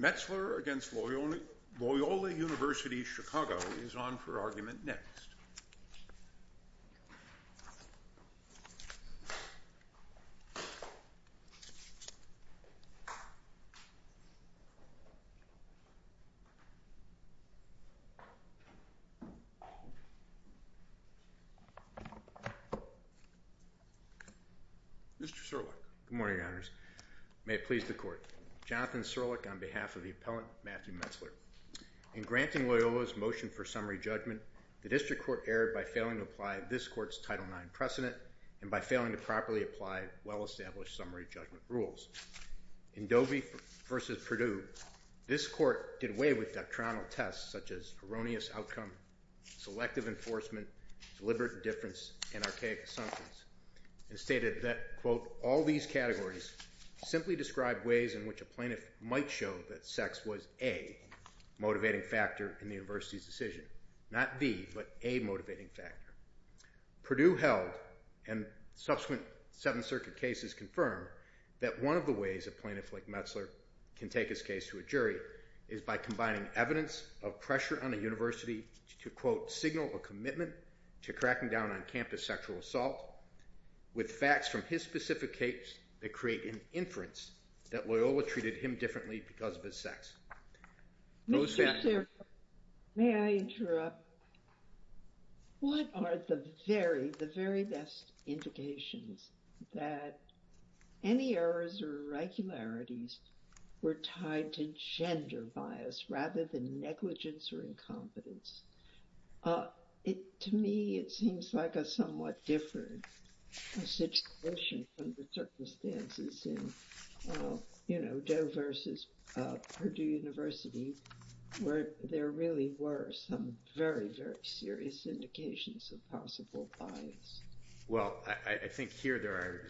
Metzler v. Loyola University Chicago is on for argument next. Good morning, Your Honors. May it please the Court. Jonathan Sirleck on behalf of the Appellant Matthew Metzler. In granting Loyola's motion for summary judgment, the District Court erred by failing to apply this Court's Title IX precedent and by failing to properly apply well-established summary judgment rules. In Dovey v. Perdue, this Court did away with doctrinal tests such as erroneous outcome, selective enforcement, deliberate indifference, and archaic assumptions and stated that, quote, all these categories simply describe ways in which a plaintiff might show that sex was a motivating factor in the university's decision. Not the, but a motivating factor. Perdue held, and subsequent Seventh Circuit cases confirm, that one of the ways a plaintiff like Metzler can take his case to a jury is by combining evidence of pressure on a university to, quote, signal a commitment to cracking down on campus sexual assault with facts from his specific case that create an inference that Loyola treated him differently because of his sex. Those facts. Mr. Thurber, may I interrupt? What are the very, the very best indications that any errors or irregularities were tied to gender bias rather than negligence or incompetence? To me, it seems like a somewhat different situation from the circumstances in, you know, Doe versus Perdue University, where there really were some very, very serious indications of possible bias. Well, I think here there are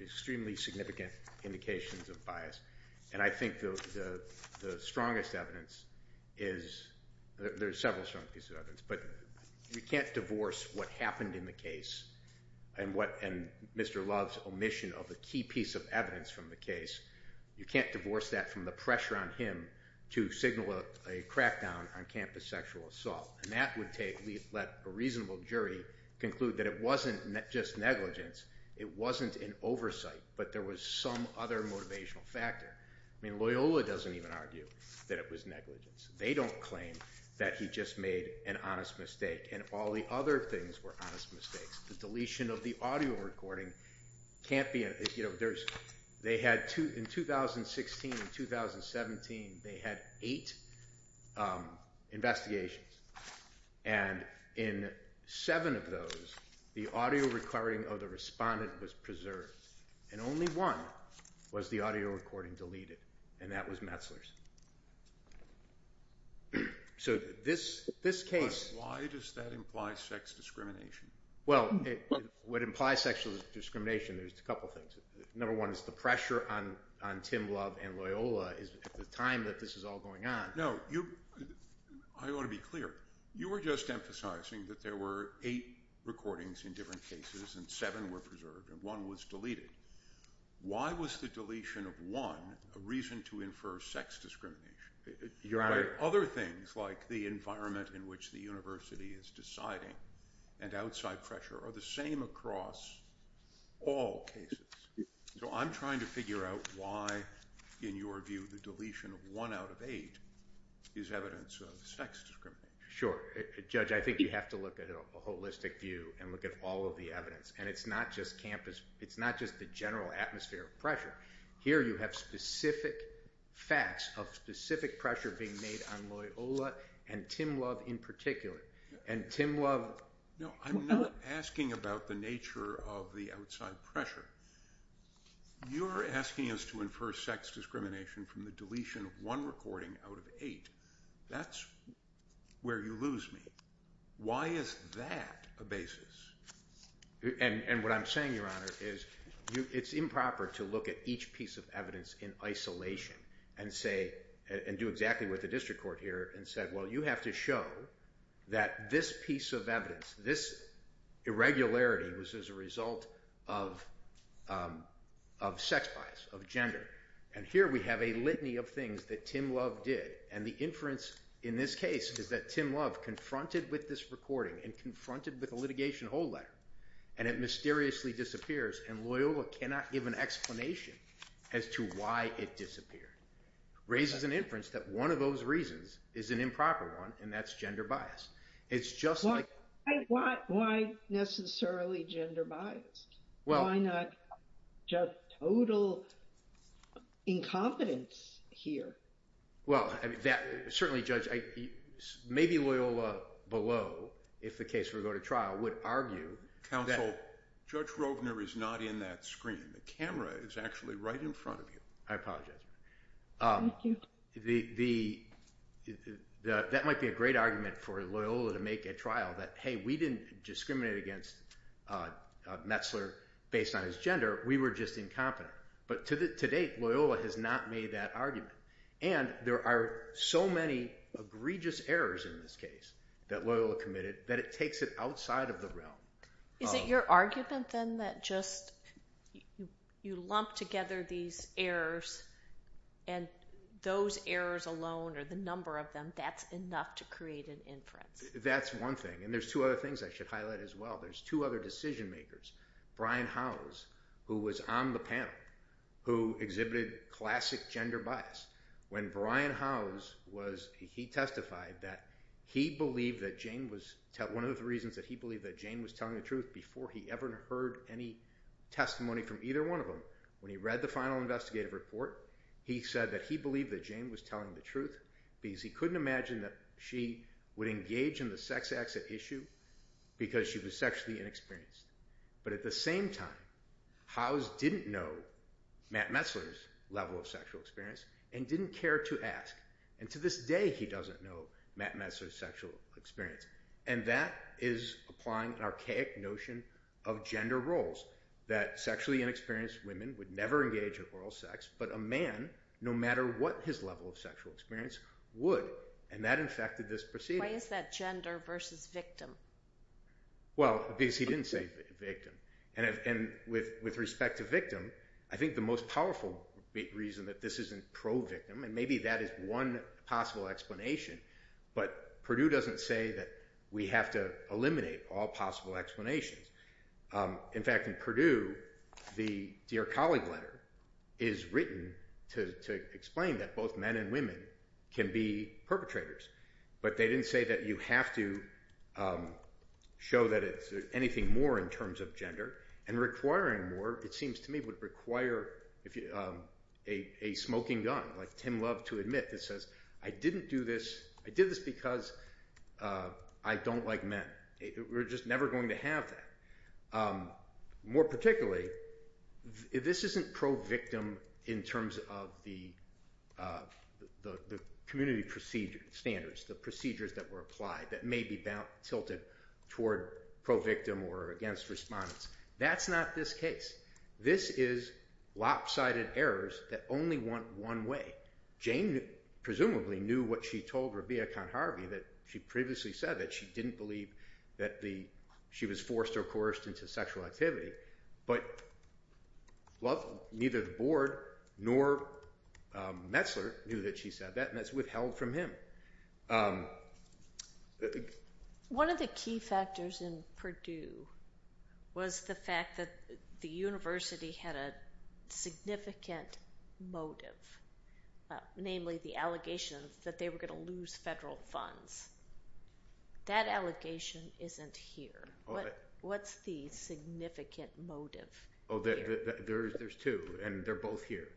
extremely significant indications of bias, and I think the strongest evidence is, there are several strong pieces of evidence, but you can't divorce what happened in the case and what, and Mr. Love's omission of the key piece of evidence from the case. You can't divorce that from the pressure on him to signal a crackdown on campus sexual assault, and that would take, let a reasonable jury conclude that it wasn't just negligence, it wasn't an oversight, but there was some other motivational factor. I mean, Loyola doesn't even argue that it was negligence. They don't claim that he just made an honest mistake, and all the other things were honest mistakes. The deletion of the audio recording can't be, you know, there's, they had two, in 2016 and 2017, they had eight investigations, and in seven of those, the audio recording of the respondent was preserved, and only one was the audio recording deleted, and that was Metzler's. So this case... But why does that imply sex discrimination? Well, what implies sexual discrimination, there's a couple things. Number one is the pressure on Tim Love and Loyola is, at the time that this is all going on... No, you, I want to be clear. You were just emphasizing that there were eight recordings in different cases, and seven were preserved, and one was deleted. Why was the deletion of one a reason to infer sex discrimination? Your Honor... But other things, like the environment in which the university is deciding, and outside pressure, are the same across all cases. So I'm trying to figure out why, in your view, the deletion of one out of eight is evidence of sex discrimination. Sure. Judge, I think you have to look at a holistic view and look at all of the evidence, and it's not just campus, it's not just the general atmosphere of pressure. Here you have specific facts of specific pressure being made on Loyola, and Tim Love in particular. And Tim Love... No, I'm not asking about the nature of the outside pressure. You're asking us to infer sex discrimination from the deletion of one recording out of eight. That's where you lose me. Why is that a basis? And what I'm saying, Your Honor, is it's improper to look at each piece of evidence in isolation and say, and do exactly what the district court here and said, well, you have to show that this piece of evidence, this irregularity was as a result of sex bias, of gender. And here we have a litany of things that Tim Love did, and the inference in this case is that Tim Love confronted with this recording and confronted with a litigation hold letter, and it mysteriously disappears, and Loyola cannot give an explanation as to why it disappeared. Raises an inference that one of those reasons is an improper one, and that's gender bias. It's just like... Why necessarily gender bias? Why not just total incompetence here? Well, certainly, Judge, maybe Loyola below, if the case were to go to trial, would argue... Counsel, Judge Rovner is not in that screen. The camera is actually right in front of you. I apologize. Thank you. That might be a great argument for Loyola to make at trial that, hey, we didn't discriminate against Metzler based on his gender. We were just incompetent. But to date, Loyola has not made that argument. And there are so many egregious errors in this case that Loyola committed that it takes it outside of the realm. Is it your argument, then, that just you lump together these errors, and those errors alone or the number of them, that's enough to create an inference? That's one thing. And there's two other things I should highlight as well. There's two other decision makers, Brian Howes, who was on the panel, who exhibited classic gender bias. When Brian Howes was... He testified that he believed that Jane was... One of the reasons that he believed that Jane was telling the truth before he ever heard any testimony from either one of them, when he read the final investigative report, he said that he believed that Jane was telling the truth because he couldn't imagine that she would engage in the sex acts at issue because she was sexually inexperienced. But at the same time, Howes didn't know Matt Metzler's level of sexual experience and didn't care to ask. And to this day, he doesn't know Matt Metzler's sexual experience. And that is applying an archaic notion of gender roles, that sexually inexperienced women would never engage in oral sex, but a man, no matter what his level of sexual experience, would. And that infected this proceeding. Why is that gender versus victim? Well, because he didn't say victim. And with respect to victim, I think the most powerful reason that this isn't pro-victim, and maybe that is one possible explanation, but Purdue doesn't say that we have to eliminate all possible explanations. In fact, in Purdue, the Dear Colleague letter is written to explain that both men and women can be perpetrators. But they didn't say that you have to show that it's anything more in terms of gender. And requiring more, it seems to me, would require a smoking gun, like Tim Love to admit that says, I didn't do this, I did this because I don't like men. We're just never going to have that. More particularly, this isn't pro-victim in terms of the community standards, the procedures that were applied that may be tilted toward pro-victim or against respondents. That's not this case. This is lopsided errors that only went one way. Jane presumably knew what she told Rabia Khan-Harvey, that she previously said that she didn't believe that she was forced or coerced into sexual activity, but neither the board nor Metzler knew that she said that, and that's withheld from him. One of the key factors in Purdue was the fact that the university had a significant motive, namely the allegation that they were going to lose federal funds. That allegation isn't here. What's the significant motive? There's two, and they're both here.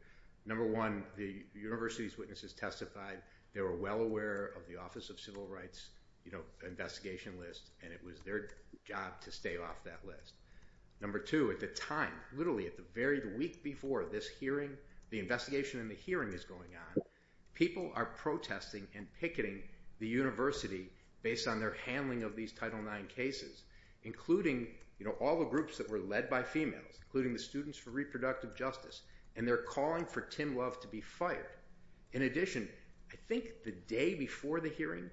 Number one, the university's witnesses testified, they were well aware of the office of civil rights investigation list, and it was their job to stay off that list. Number two, at the time, literally at the very week before this hearing, the investigation and the hearing is going on, people are protesting and picketing the university based on their handling of these Title IX cases, including all the groups that were led by females, including the Students for Reproductive Justice, and they're calling for Tim Love to be fired. In addition, I think the day before the hearing,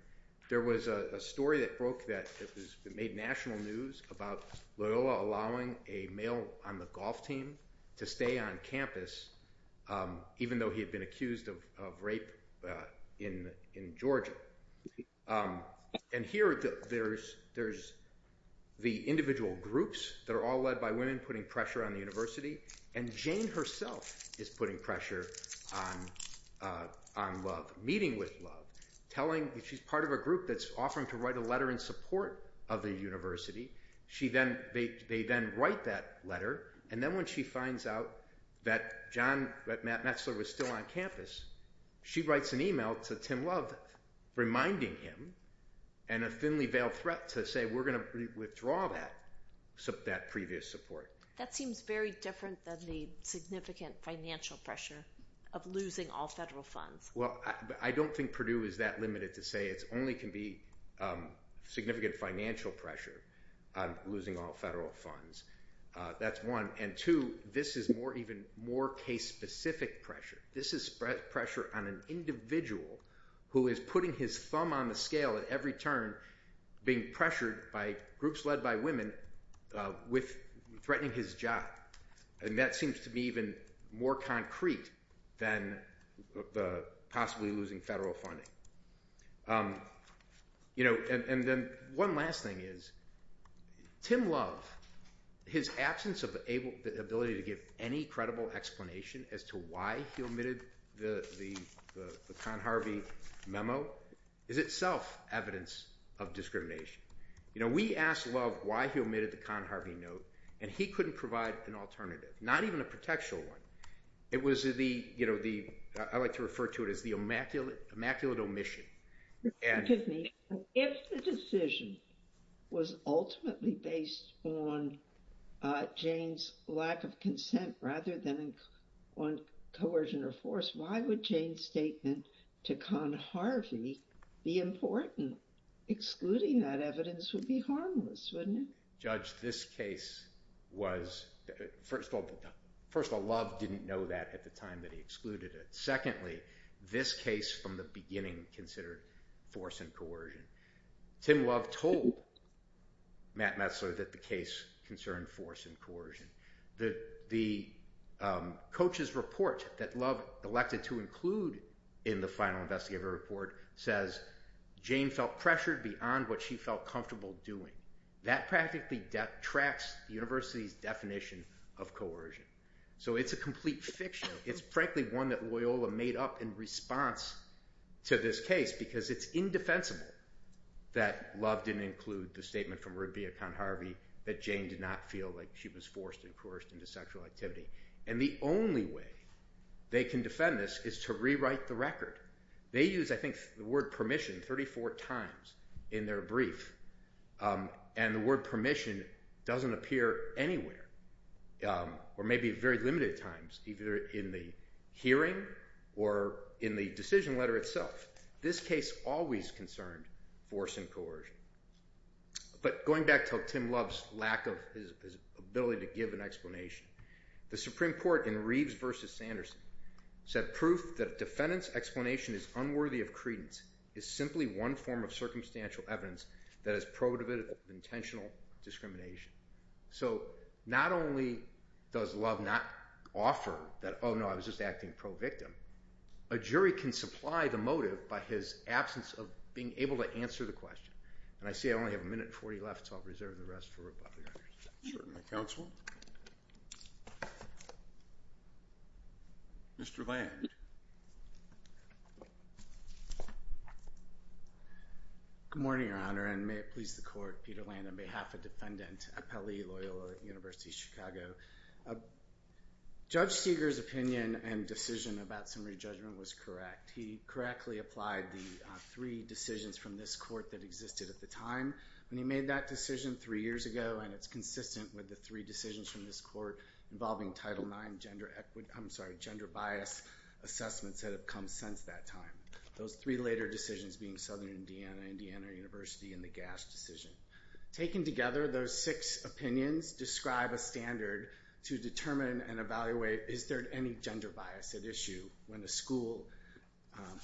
there was a story that made national news about Loyola allowing a male on the golf team to stay on campus, even though he had been accused of rape in Georgia. And here, there's the individual groups that are all led by women putting pressure on the university, and Jane herself is putting pressure on Love, meeting with Love, telling that she's part of a group that's offering to write a letter in support of the university. She then, they then write that letter, and then when she finds out that Matt Metzler was still on campus, she writes an email to Tim Love reminding him, and a thinly veiled threat to say, we're going to withdraw that previous support. That seems very different than the significant financial pressure of losing all federal funds. Well, I don't think Purdue is that limited to say it only can be significant financial pressure on losing all federal funds. That's one. And two, this is even more case-specific pressure. This is pressure on an individual who is putting his thumb on the scale at every turn, being pressured by groups led by women, threatening his job. And that seems to be even more concrete than possibly losing federal funding. And then one last thing is, Tim Love, his absence of the ability to give any credible explanation as to why he omitted the Conharvey memo is itself evidence of discrimination. You know, we asked Love why he omitted the Conharvey note, and he couldn't provide an alternative, not even a protectional one. It was the, you know, the, I like to refer to it as the immaculate omission. Excuse me, if the decision was ultimately based on Jane's lack of consent rather than on coercion or force, why would Jane's statement to Conharvey be important, excluding that evidence would be harmless, wouldn't it? Judge, this case was, first of all, Love didn't know that at the time that he excluded it. Secondly, this case from the beginning considered force and coercion. Tim Love told Matt Messler that the case concerned force and coercion. The coach's report that Love elected to include in the final investigative report says Jane felt pressured beyond what she felt comfortable doing. That practically detracts the university's definition of coercion. So, it's a complete fiction. It's frankly one that Loyola made up in response to this case because it's indefensible that Love didn't include the statement from Rubia Conharvey that Jane did not feel like she was forced and coerced into sexual activity. And the only way they can defend this is to rewrite the record. They use, I think, the word permission 34 times in their brief. And the word permission doesn't appear anywhere or maybe very limited times, either in the hearing or in the decision letter itself. This case always concerned force and coercion. But going back to Tim Love's lack of his ability to give an explanation, the Supreme Court in Reeves v. Sanderson said proof that a defendant's explanation is unworthy of credence is simply one form of circumstantial evidence that is pro-intentional discrimination. So, not only does Love not offer that, oh, no, I was just acting pro-victim, a jury can supply the motive by his absence of being able to answer the question. And I see I only have a minute and 40 left, so I'll reserve the rest for Robert. Certainly, Counsel. Mr. Land. Good morning, Your Honor, and may it please the Court. Peter Land on behalf of Defendant Appelli Loyola, University of Chicago. Judge Seeger's opinion and decision about summary judgment was correct. He correctly applied the three decisions from this court that existed at the time. He made that decision three years ago, and it's consistent with the three decisions from this court involving Title IX gender bias assessments that have come since that time. Those three later decisions being Southern Indiana, Indiana University, and the GAS decision. Taken together, those six opinions describe a standard to determine and evaluate, is there any gender bias at issue when a school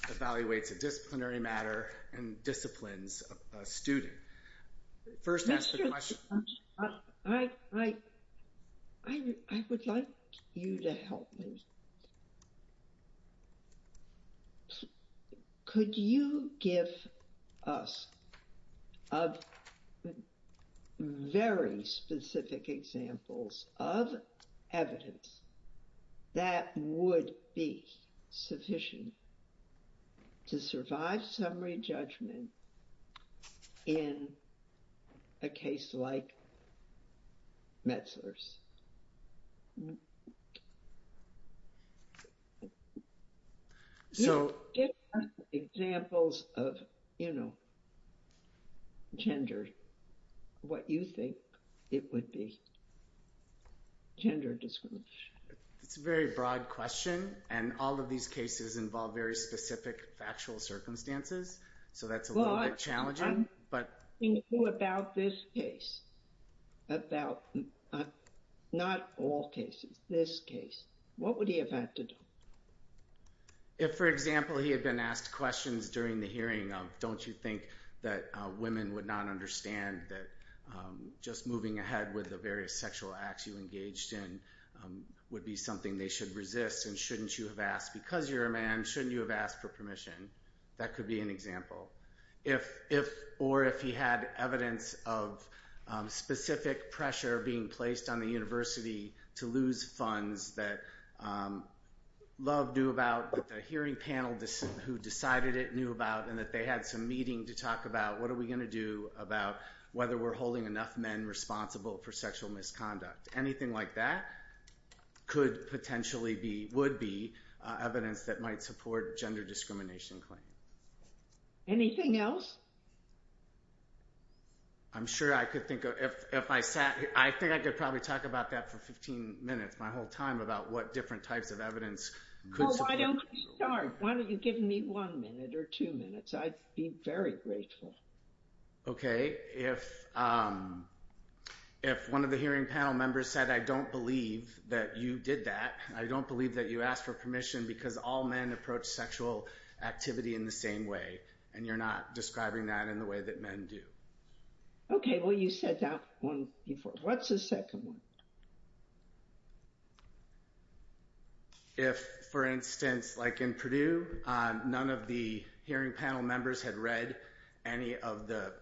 evaluates a disciplinary matter and disciplines a student? First, ask the question. I would like you to help me. Could you give us very specific examples of evidence that would be sufficient to survive summary judgment in a case like Metzler's? Give us examples of, you know, gender, what you think it would be, gender discrimination. It's a very broad question, and all of these cases involve very specific factual circumstances, so that's a little bit challenging. Well, I'm thinking about this case. About not all cases, this case. What would he have had to do? If, for example, he had been asked questions during the hearing of, don't you think that women would not understand that just moving ahead with the various sexual acts you engaged in, would be something they should resist, and shouldn't you have asked, because you're a man, shouldn't you have asked for permission? That could be an example. If, or if he had evidence of specific pressure being placed on the university to lose funds that LOVE knew about, that the hearing panel who decided it knew about, and that they had some meeting to talk about, what are we going to do about whether we're holding enough men responsible for sexual misconduct? Anything like that could potentially be, would be, evidence that might support gender discrimination claims. Anything else? I'm sure I could think of, if I sat, I think I could probably talk about that for 15 minutes, my whole time, about what different types of evidence could support. Oh, I don't want to start. Why don't you give me one minute or two minutes? I'd be very grateful. Okay, if, if one of the hearing panel members said, I don't believe that you did that, I don't believe that you asked for permission because all men approach sexual activity in the same way, and you're not describing that in the way that men do. Okay, well you said that one before. What's the second one? If, for instance, like in Purdue, none of the hearing panel members had read any of the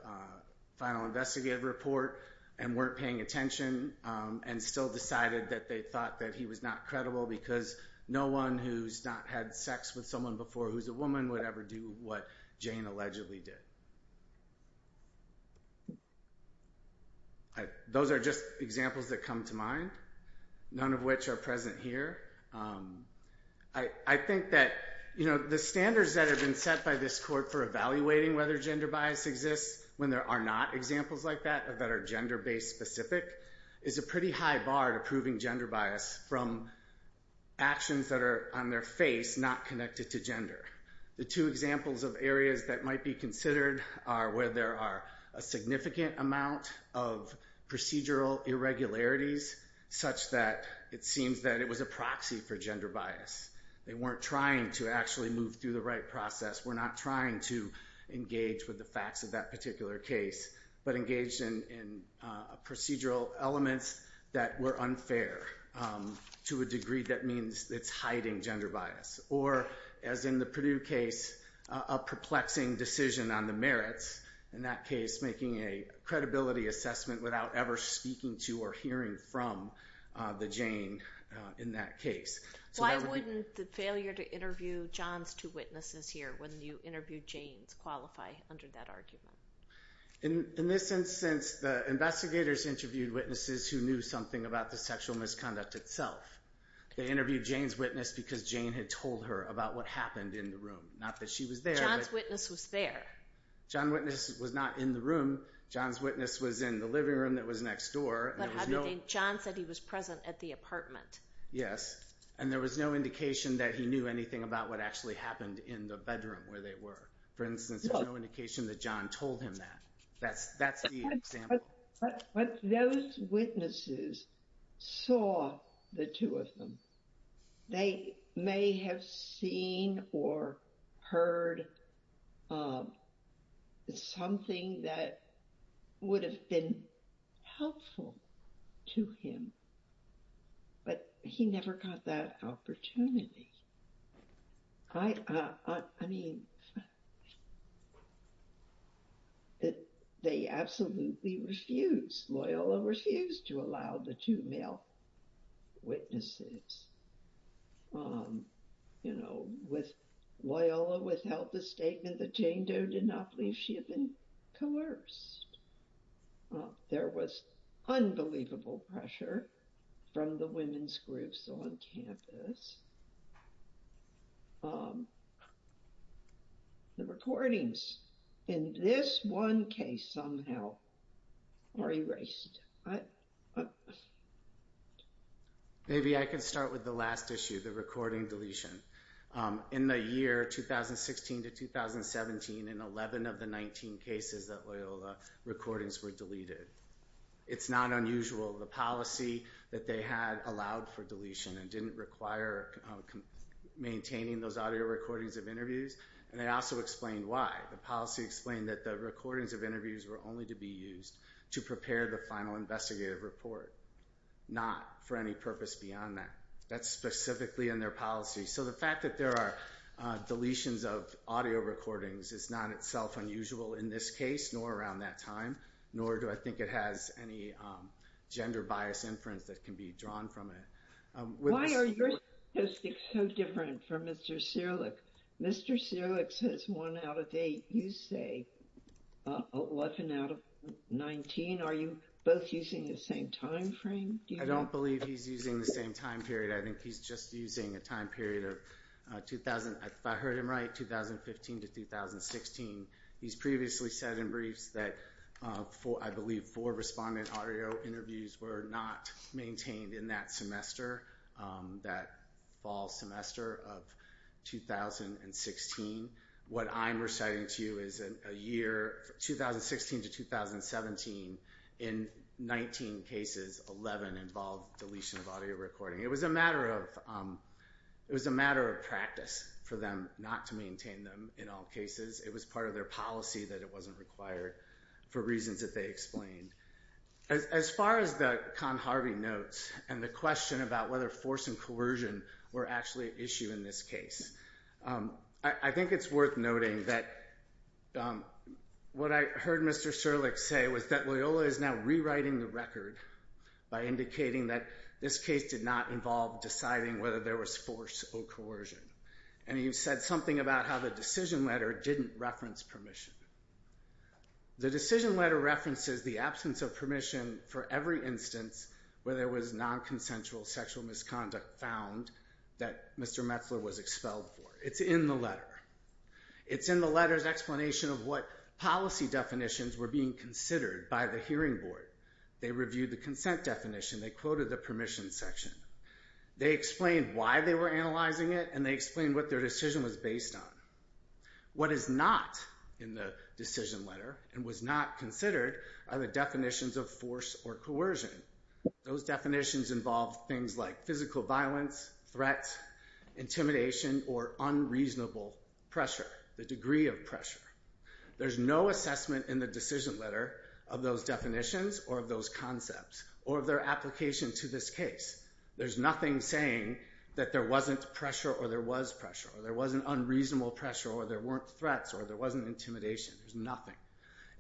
final investigative report and weren't paying attention and still decided that they thought that he was not credible because no one who's not had sex with someone before who's a woman would ever do what Jane allegedly did. Those are just examples that come to mind, none of which are present here. I, I think that, you know, the standards that have been set by this court for evaluating whether gender bias exists when there are not examples like that or that are gender-based specific is a pretty high bar to proving gender bias from actions that are on their face not connected to gender. The two examples of areas that might be considered are where there are a significant amount of procedural irregularities such that it seems that it was a proxy for gender bias. They weren't trying to actually move through the right process. We're not trying to engage with the facts of that particular case, but engaged in procedural elements that were unfair to a degree that means it's hiding gender bias. Or, as in the Purdue case, a perplexing decision on the merits, in that case making a credibility assessment without ever speaking to or hearing from the Jane in that case. Why wouldn't the failure to interview John's two witnesses here when you interviewed Jane's qualify under that argument? In this instance, the investigators interviewed witnesses who knew something about the sexual misconduct itself. They interviewed Jane's witness because Jane had told her about what happened in the room, not that she was there. John's witness was there. John's witness was not in the room. John's witness was in the living room that was next door. But John said he was present at the apartment. Yes, and there was no indication that he knew anything about what actually happened in the bedroom where they were. For instance, there's no indication that John told him that. That's the example. But those witnesses saw the two of them. They may have seen or heard something that would have been helpful to him, but he never got that opportunity. I mean, they absolutely refused. Loyola refused to allow the two male witnesses. You know, Loyola withheld the statement that Jane Doe did not believe she had been coerced. There was unbelievable pressure from the women's groups on campus. The recordings in this one case somehow were erased. Maybe I can start with the last issue, the recording deletion. In the year 2016 to 2017, in 11 of the 19 cases at Loyola, recordings were deleted. It's not unusual. The policy that they had allowed for deletion and didn't require maintaining those audio recordings of interviews. And they also explained why. The policy explained that the recordings of interviews were only to be used to prepare the final investigative report, not for any purpose beyond that. That's specifically in their policy. So the fact that there are deletions of audio recordings is not itself unusual in this case, nor around that time, nor do I think it has any gender bias inference that can be drawn from it. Why are your statistics so different from Mr. Sirleck? Mr. Sirleck says one out of eight. You say 11 out of 19. Are you both using the same time frame? I don't believe he's using the same time period. I think he's just using a time period of, if I heard him right, 2015 to 2016. He's previously said in briefs that, I believe, four respondent audio interviews were not maintained in that semester, that fall semester of 2016. What I'm reciting to you is a year, 2016 to 2017, in 19 cases, 11 involved deletion of audio recording. It was a matter of practice for them not to maintain them in all cases. It was part of their policy that it wasn't required for reasons that they explained. As far as the Khan-Harvey notes and the question about whether force and coercion were actually an issue in this case, I think it's worth noting that what I heard Mr. Sirleck say was that Loyola is now rewriting the record by indicating that this case did not involve deciding whether there was force or coercion. He said something about how the decision letter didn't reference permission. The decision letter references the absence of permission for every instance where there was non-consensual sexual misconduct found that Mr. Metzler was expelled for. It's in the letter. It's in the letter's explanation of what policy definitions were being considered by the hearing board. They reviewed the consent definition. They quoted the permission section. They explained why they were analyzing it and they explained what their decision was based on. What is not in the decision letter and was not considered are the definitions of force or coercion. Those definitions involve things like physical violence, threat, intimidation, or unreasonable pressure, the degree of pressure. There's no assessment in the decision letter of those definitions or of those concepts or of their application to this case. There's nothing saying that there wasn't pressure or there was pressure. There wasn't unreasonable pressure or there weren't threats or there wasn't intimidation. There's nothing.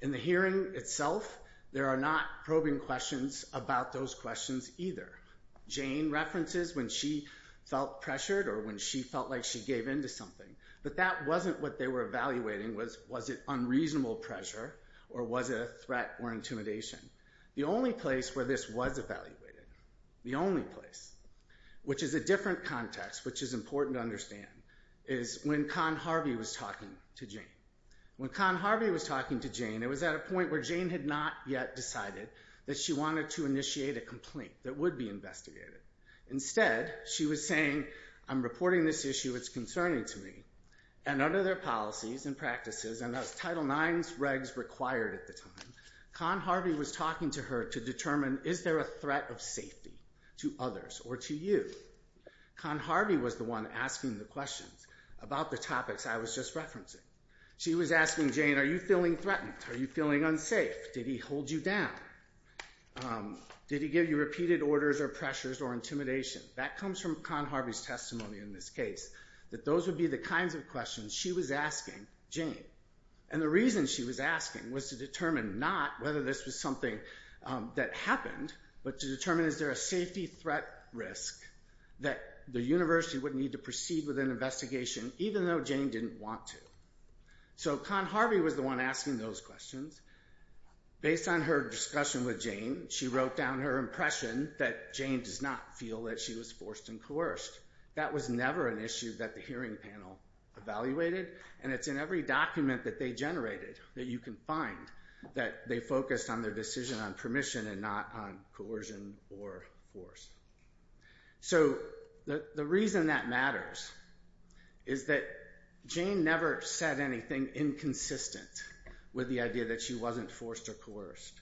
In the hearing itself, there are not probing questions about those questions either. Jane references when she felt pressured or when she felt like she gave in to something. But that wasn't what they were evaluating. Was it unreasonable pressure or was it a threat or intimidation? The only place where this was evaluated, the only place, which is a different context which is important to understand, is when Con Harvey was talking to Jane. When Con Harvey was talking to Jane, it was at a point where Jane had not yet decided that she wanted to initiate a complaint that would be investigated. Instead, she was saying, I'm reporting this issue, it's concerning to me. And under their policies and practices, and as Title IX regs required at the time, Con Harvey was talking to her to determine, is there a threat of safety to others or to you? Con Harvey was the one asking the questions about the topics I was just referencing. She was asking Jane, are you feeling threatened? Are you feeling unsafe? Did he hold you down? Did he give you repeated orders or pressures or intimidation? That comes from Con Harvey's testimony in this case, that those would be the kinds of questions she was asking Jane. And the reason she was asking was to determine not whether this was something that happened, but to determine is there a safety threat risk that the university would need to proceed with an investigation even though Jane didn't want to. So Con Harvey was the one asking those questions. Based on her discussion with Jane, she wrote down her impression that Jane does not feel that she was forced and coerced. That was never an issue that the hearing panel evaluated. And it's in every document that they generated that you can find that they focused on their decision on permission and not on coercion or force. So the reason that matters is that Jane never said anything inconsistent with the idea that she wasn't forced or coerced.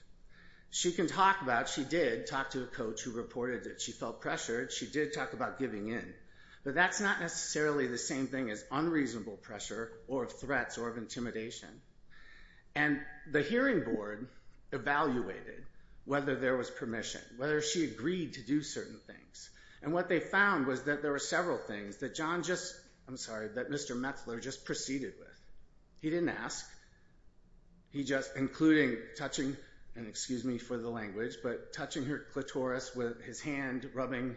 She can talk about, she did talk to a coach who reported that she felt pressured, she did talk about giving in. But that's not necessarily the same thing as unreasonable pressure or of threats or of intimidation. And the hearing board evaluated whether there was permission, whether she agreed to do certain things. And what they found was that there were several things that John just, I'm sorry, that Mr. Metzler just proceeded with. He didn't ask. He just, including touching, and excuse me for the language, but touching her clitoris with his hand, rubbing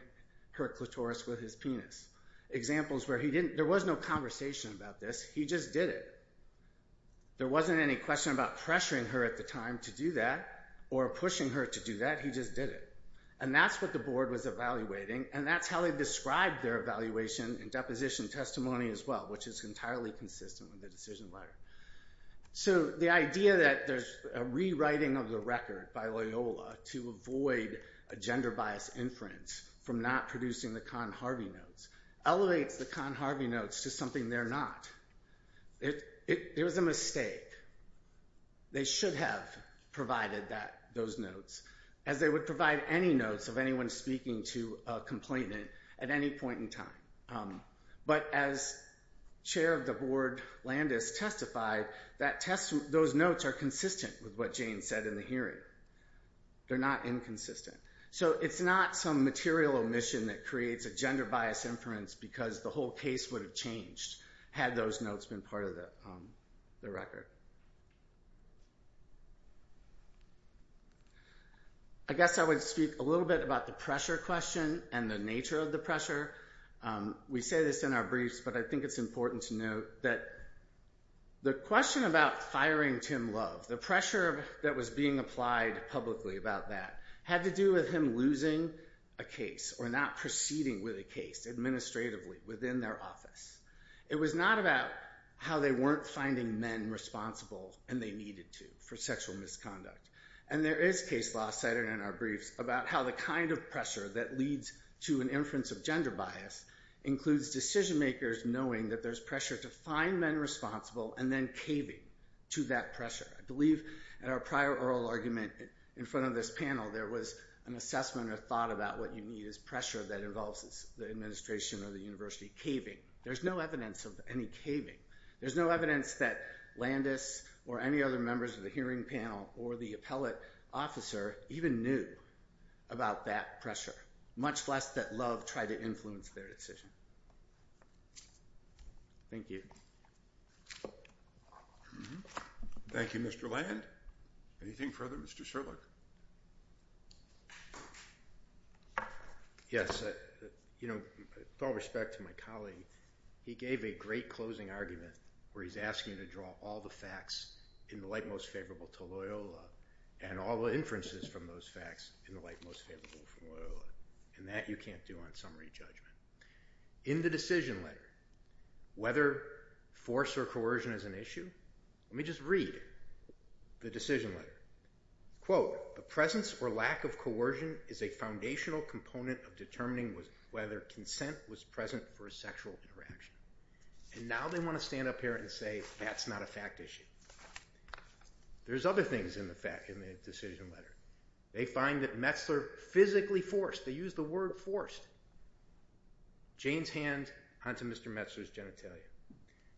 her clitoris with his penis. Examples where he didn't, there was no conversation about this, he just did it. There wasn't any question about pressuring her at the time to do that or pushing her to do that, he just did it. And that's what the board was evaluating and that's how they described their evaluation and deposition testimony as well, which is entirely consistent with the decision letter. So the idea that there's a rewriting of the record by Loyola to avoid a gender bias inference from not producing the Khan-Harvey notes elevates the Khan-Harvey notes to something they're not. It was a mistake. They should have provided those notes as they would provide any notes of anyone speaking to a complainant at any point in time. But as Chair of the Board Landis testified, those notes are consistent with what Jane said in the hearing. They're not inconsistent. So it's not some material omission that creates a gender bias inference because the whole case would have changed had those notes been part of the record. I guess I would speak a little bit about the pressure question and the nature of the pressure. We say this in our briefs, but I think it's important to note that the question about firing Tim Love, the pressure that was being applied publicly about that had to do with him losing a case or not proceeding with a case administratively within their office. It was not about how they weren't finding men responsible and they needed to for sexual misconduct. And there is case law cited in our briefs about how the kind of pressure that leads to an inference of gender bias includes decision makers knowing that there's pressure to find men responsible and then caving to that pressure. I believe in our prior oral argument in front of this panel there was an assessment or thought about what you need as pressure that involves the administration or the university caving. There's no evidence of any caving. There's no evidence that Landis or any other members of the hearing panel or the appellate officer even knew about that pressure, much less that Love tried to influence their decision. Thank you. Thank you, Mr. Land. Anything further, Mr. Sherlock? Yes. With all respect to my colleague, he gave a great closing argument where he's asking to draw all the facts in the light most favorable to Loyola and all the inferences from those facts in the light most favorable from Loyola and that you can't do on summary judgment. In the decision letter, whether force or coercion is an issue, let me just read the decision letter. Quote, the presence or lack of coercion is a foundational component of determining whether consent was present for a sexual interaction. And now they want to stand up here and say that's not a fact issue. There's other things in the decision letter. They find that Metzler physically forced, they used the word forced. Jane's hand onto Mr. Metzler's genitalia.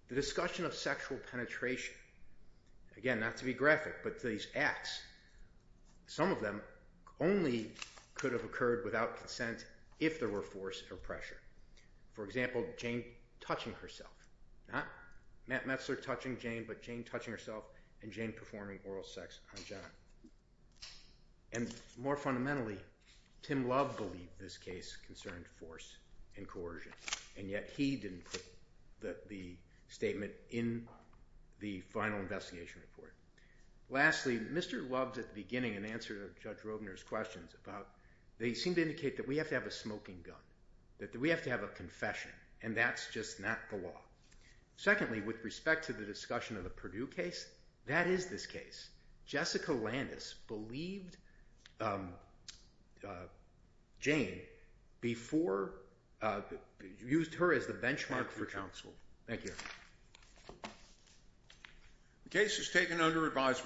The discussion of sexual penetration, again, not to be graphic, but these acts, some of them only could have occurred without consent if there were force or pressure. For example, Jane touching herself. Not Matt Metzler touching Jane, but Jane touching herself and Jane performing oral sex on John. And more fundamentally, Tim Love believed this case concerned force and coercion and yet he didn't put the statement in the final investigation report. Lastly, Mr. Love at the beginning in answer to Judge Robner's questions about, they seem to indicate that we have to have a smoking gun. That we have to have a confession and that's just not the law. Secondly, with respect to the discussion of the Purdue case, that is this case. Jessica Landis believed Jane before, used her as the benchmark for counsel. Thank you.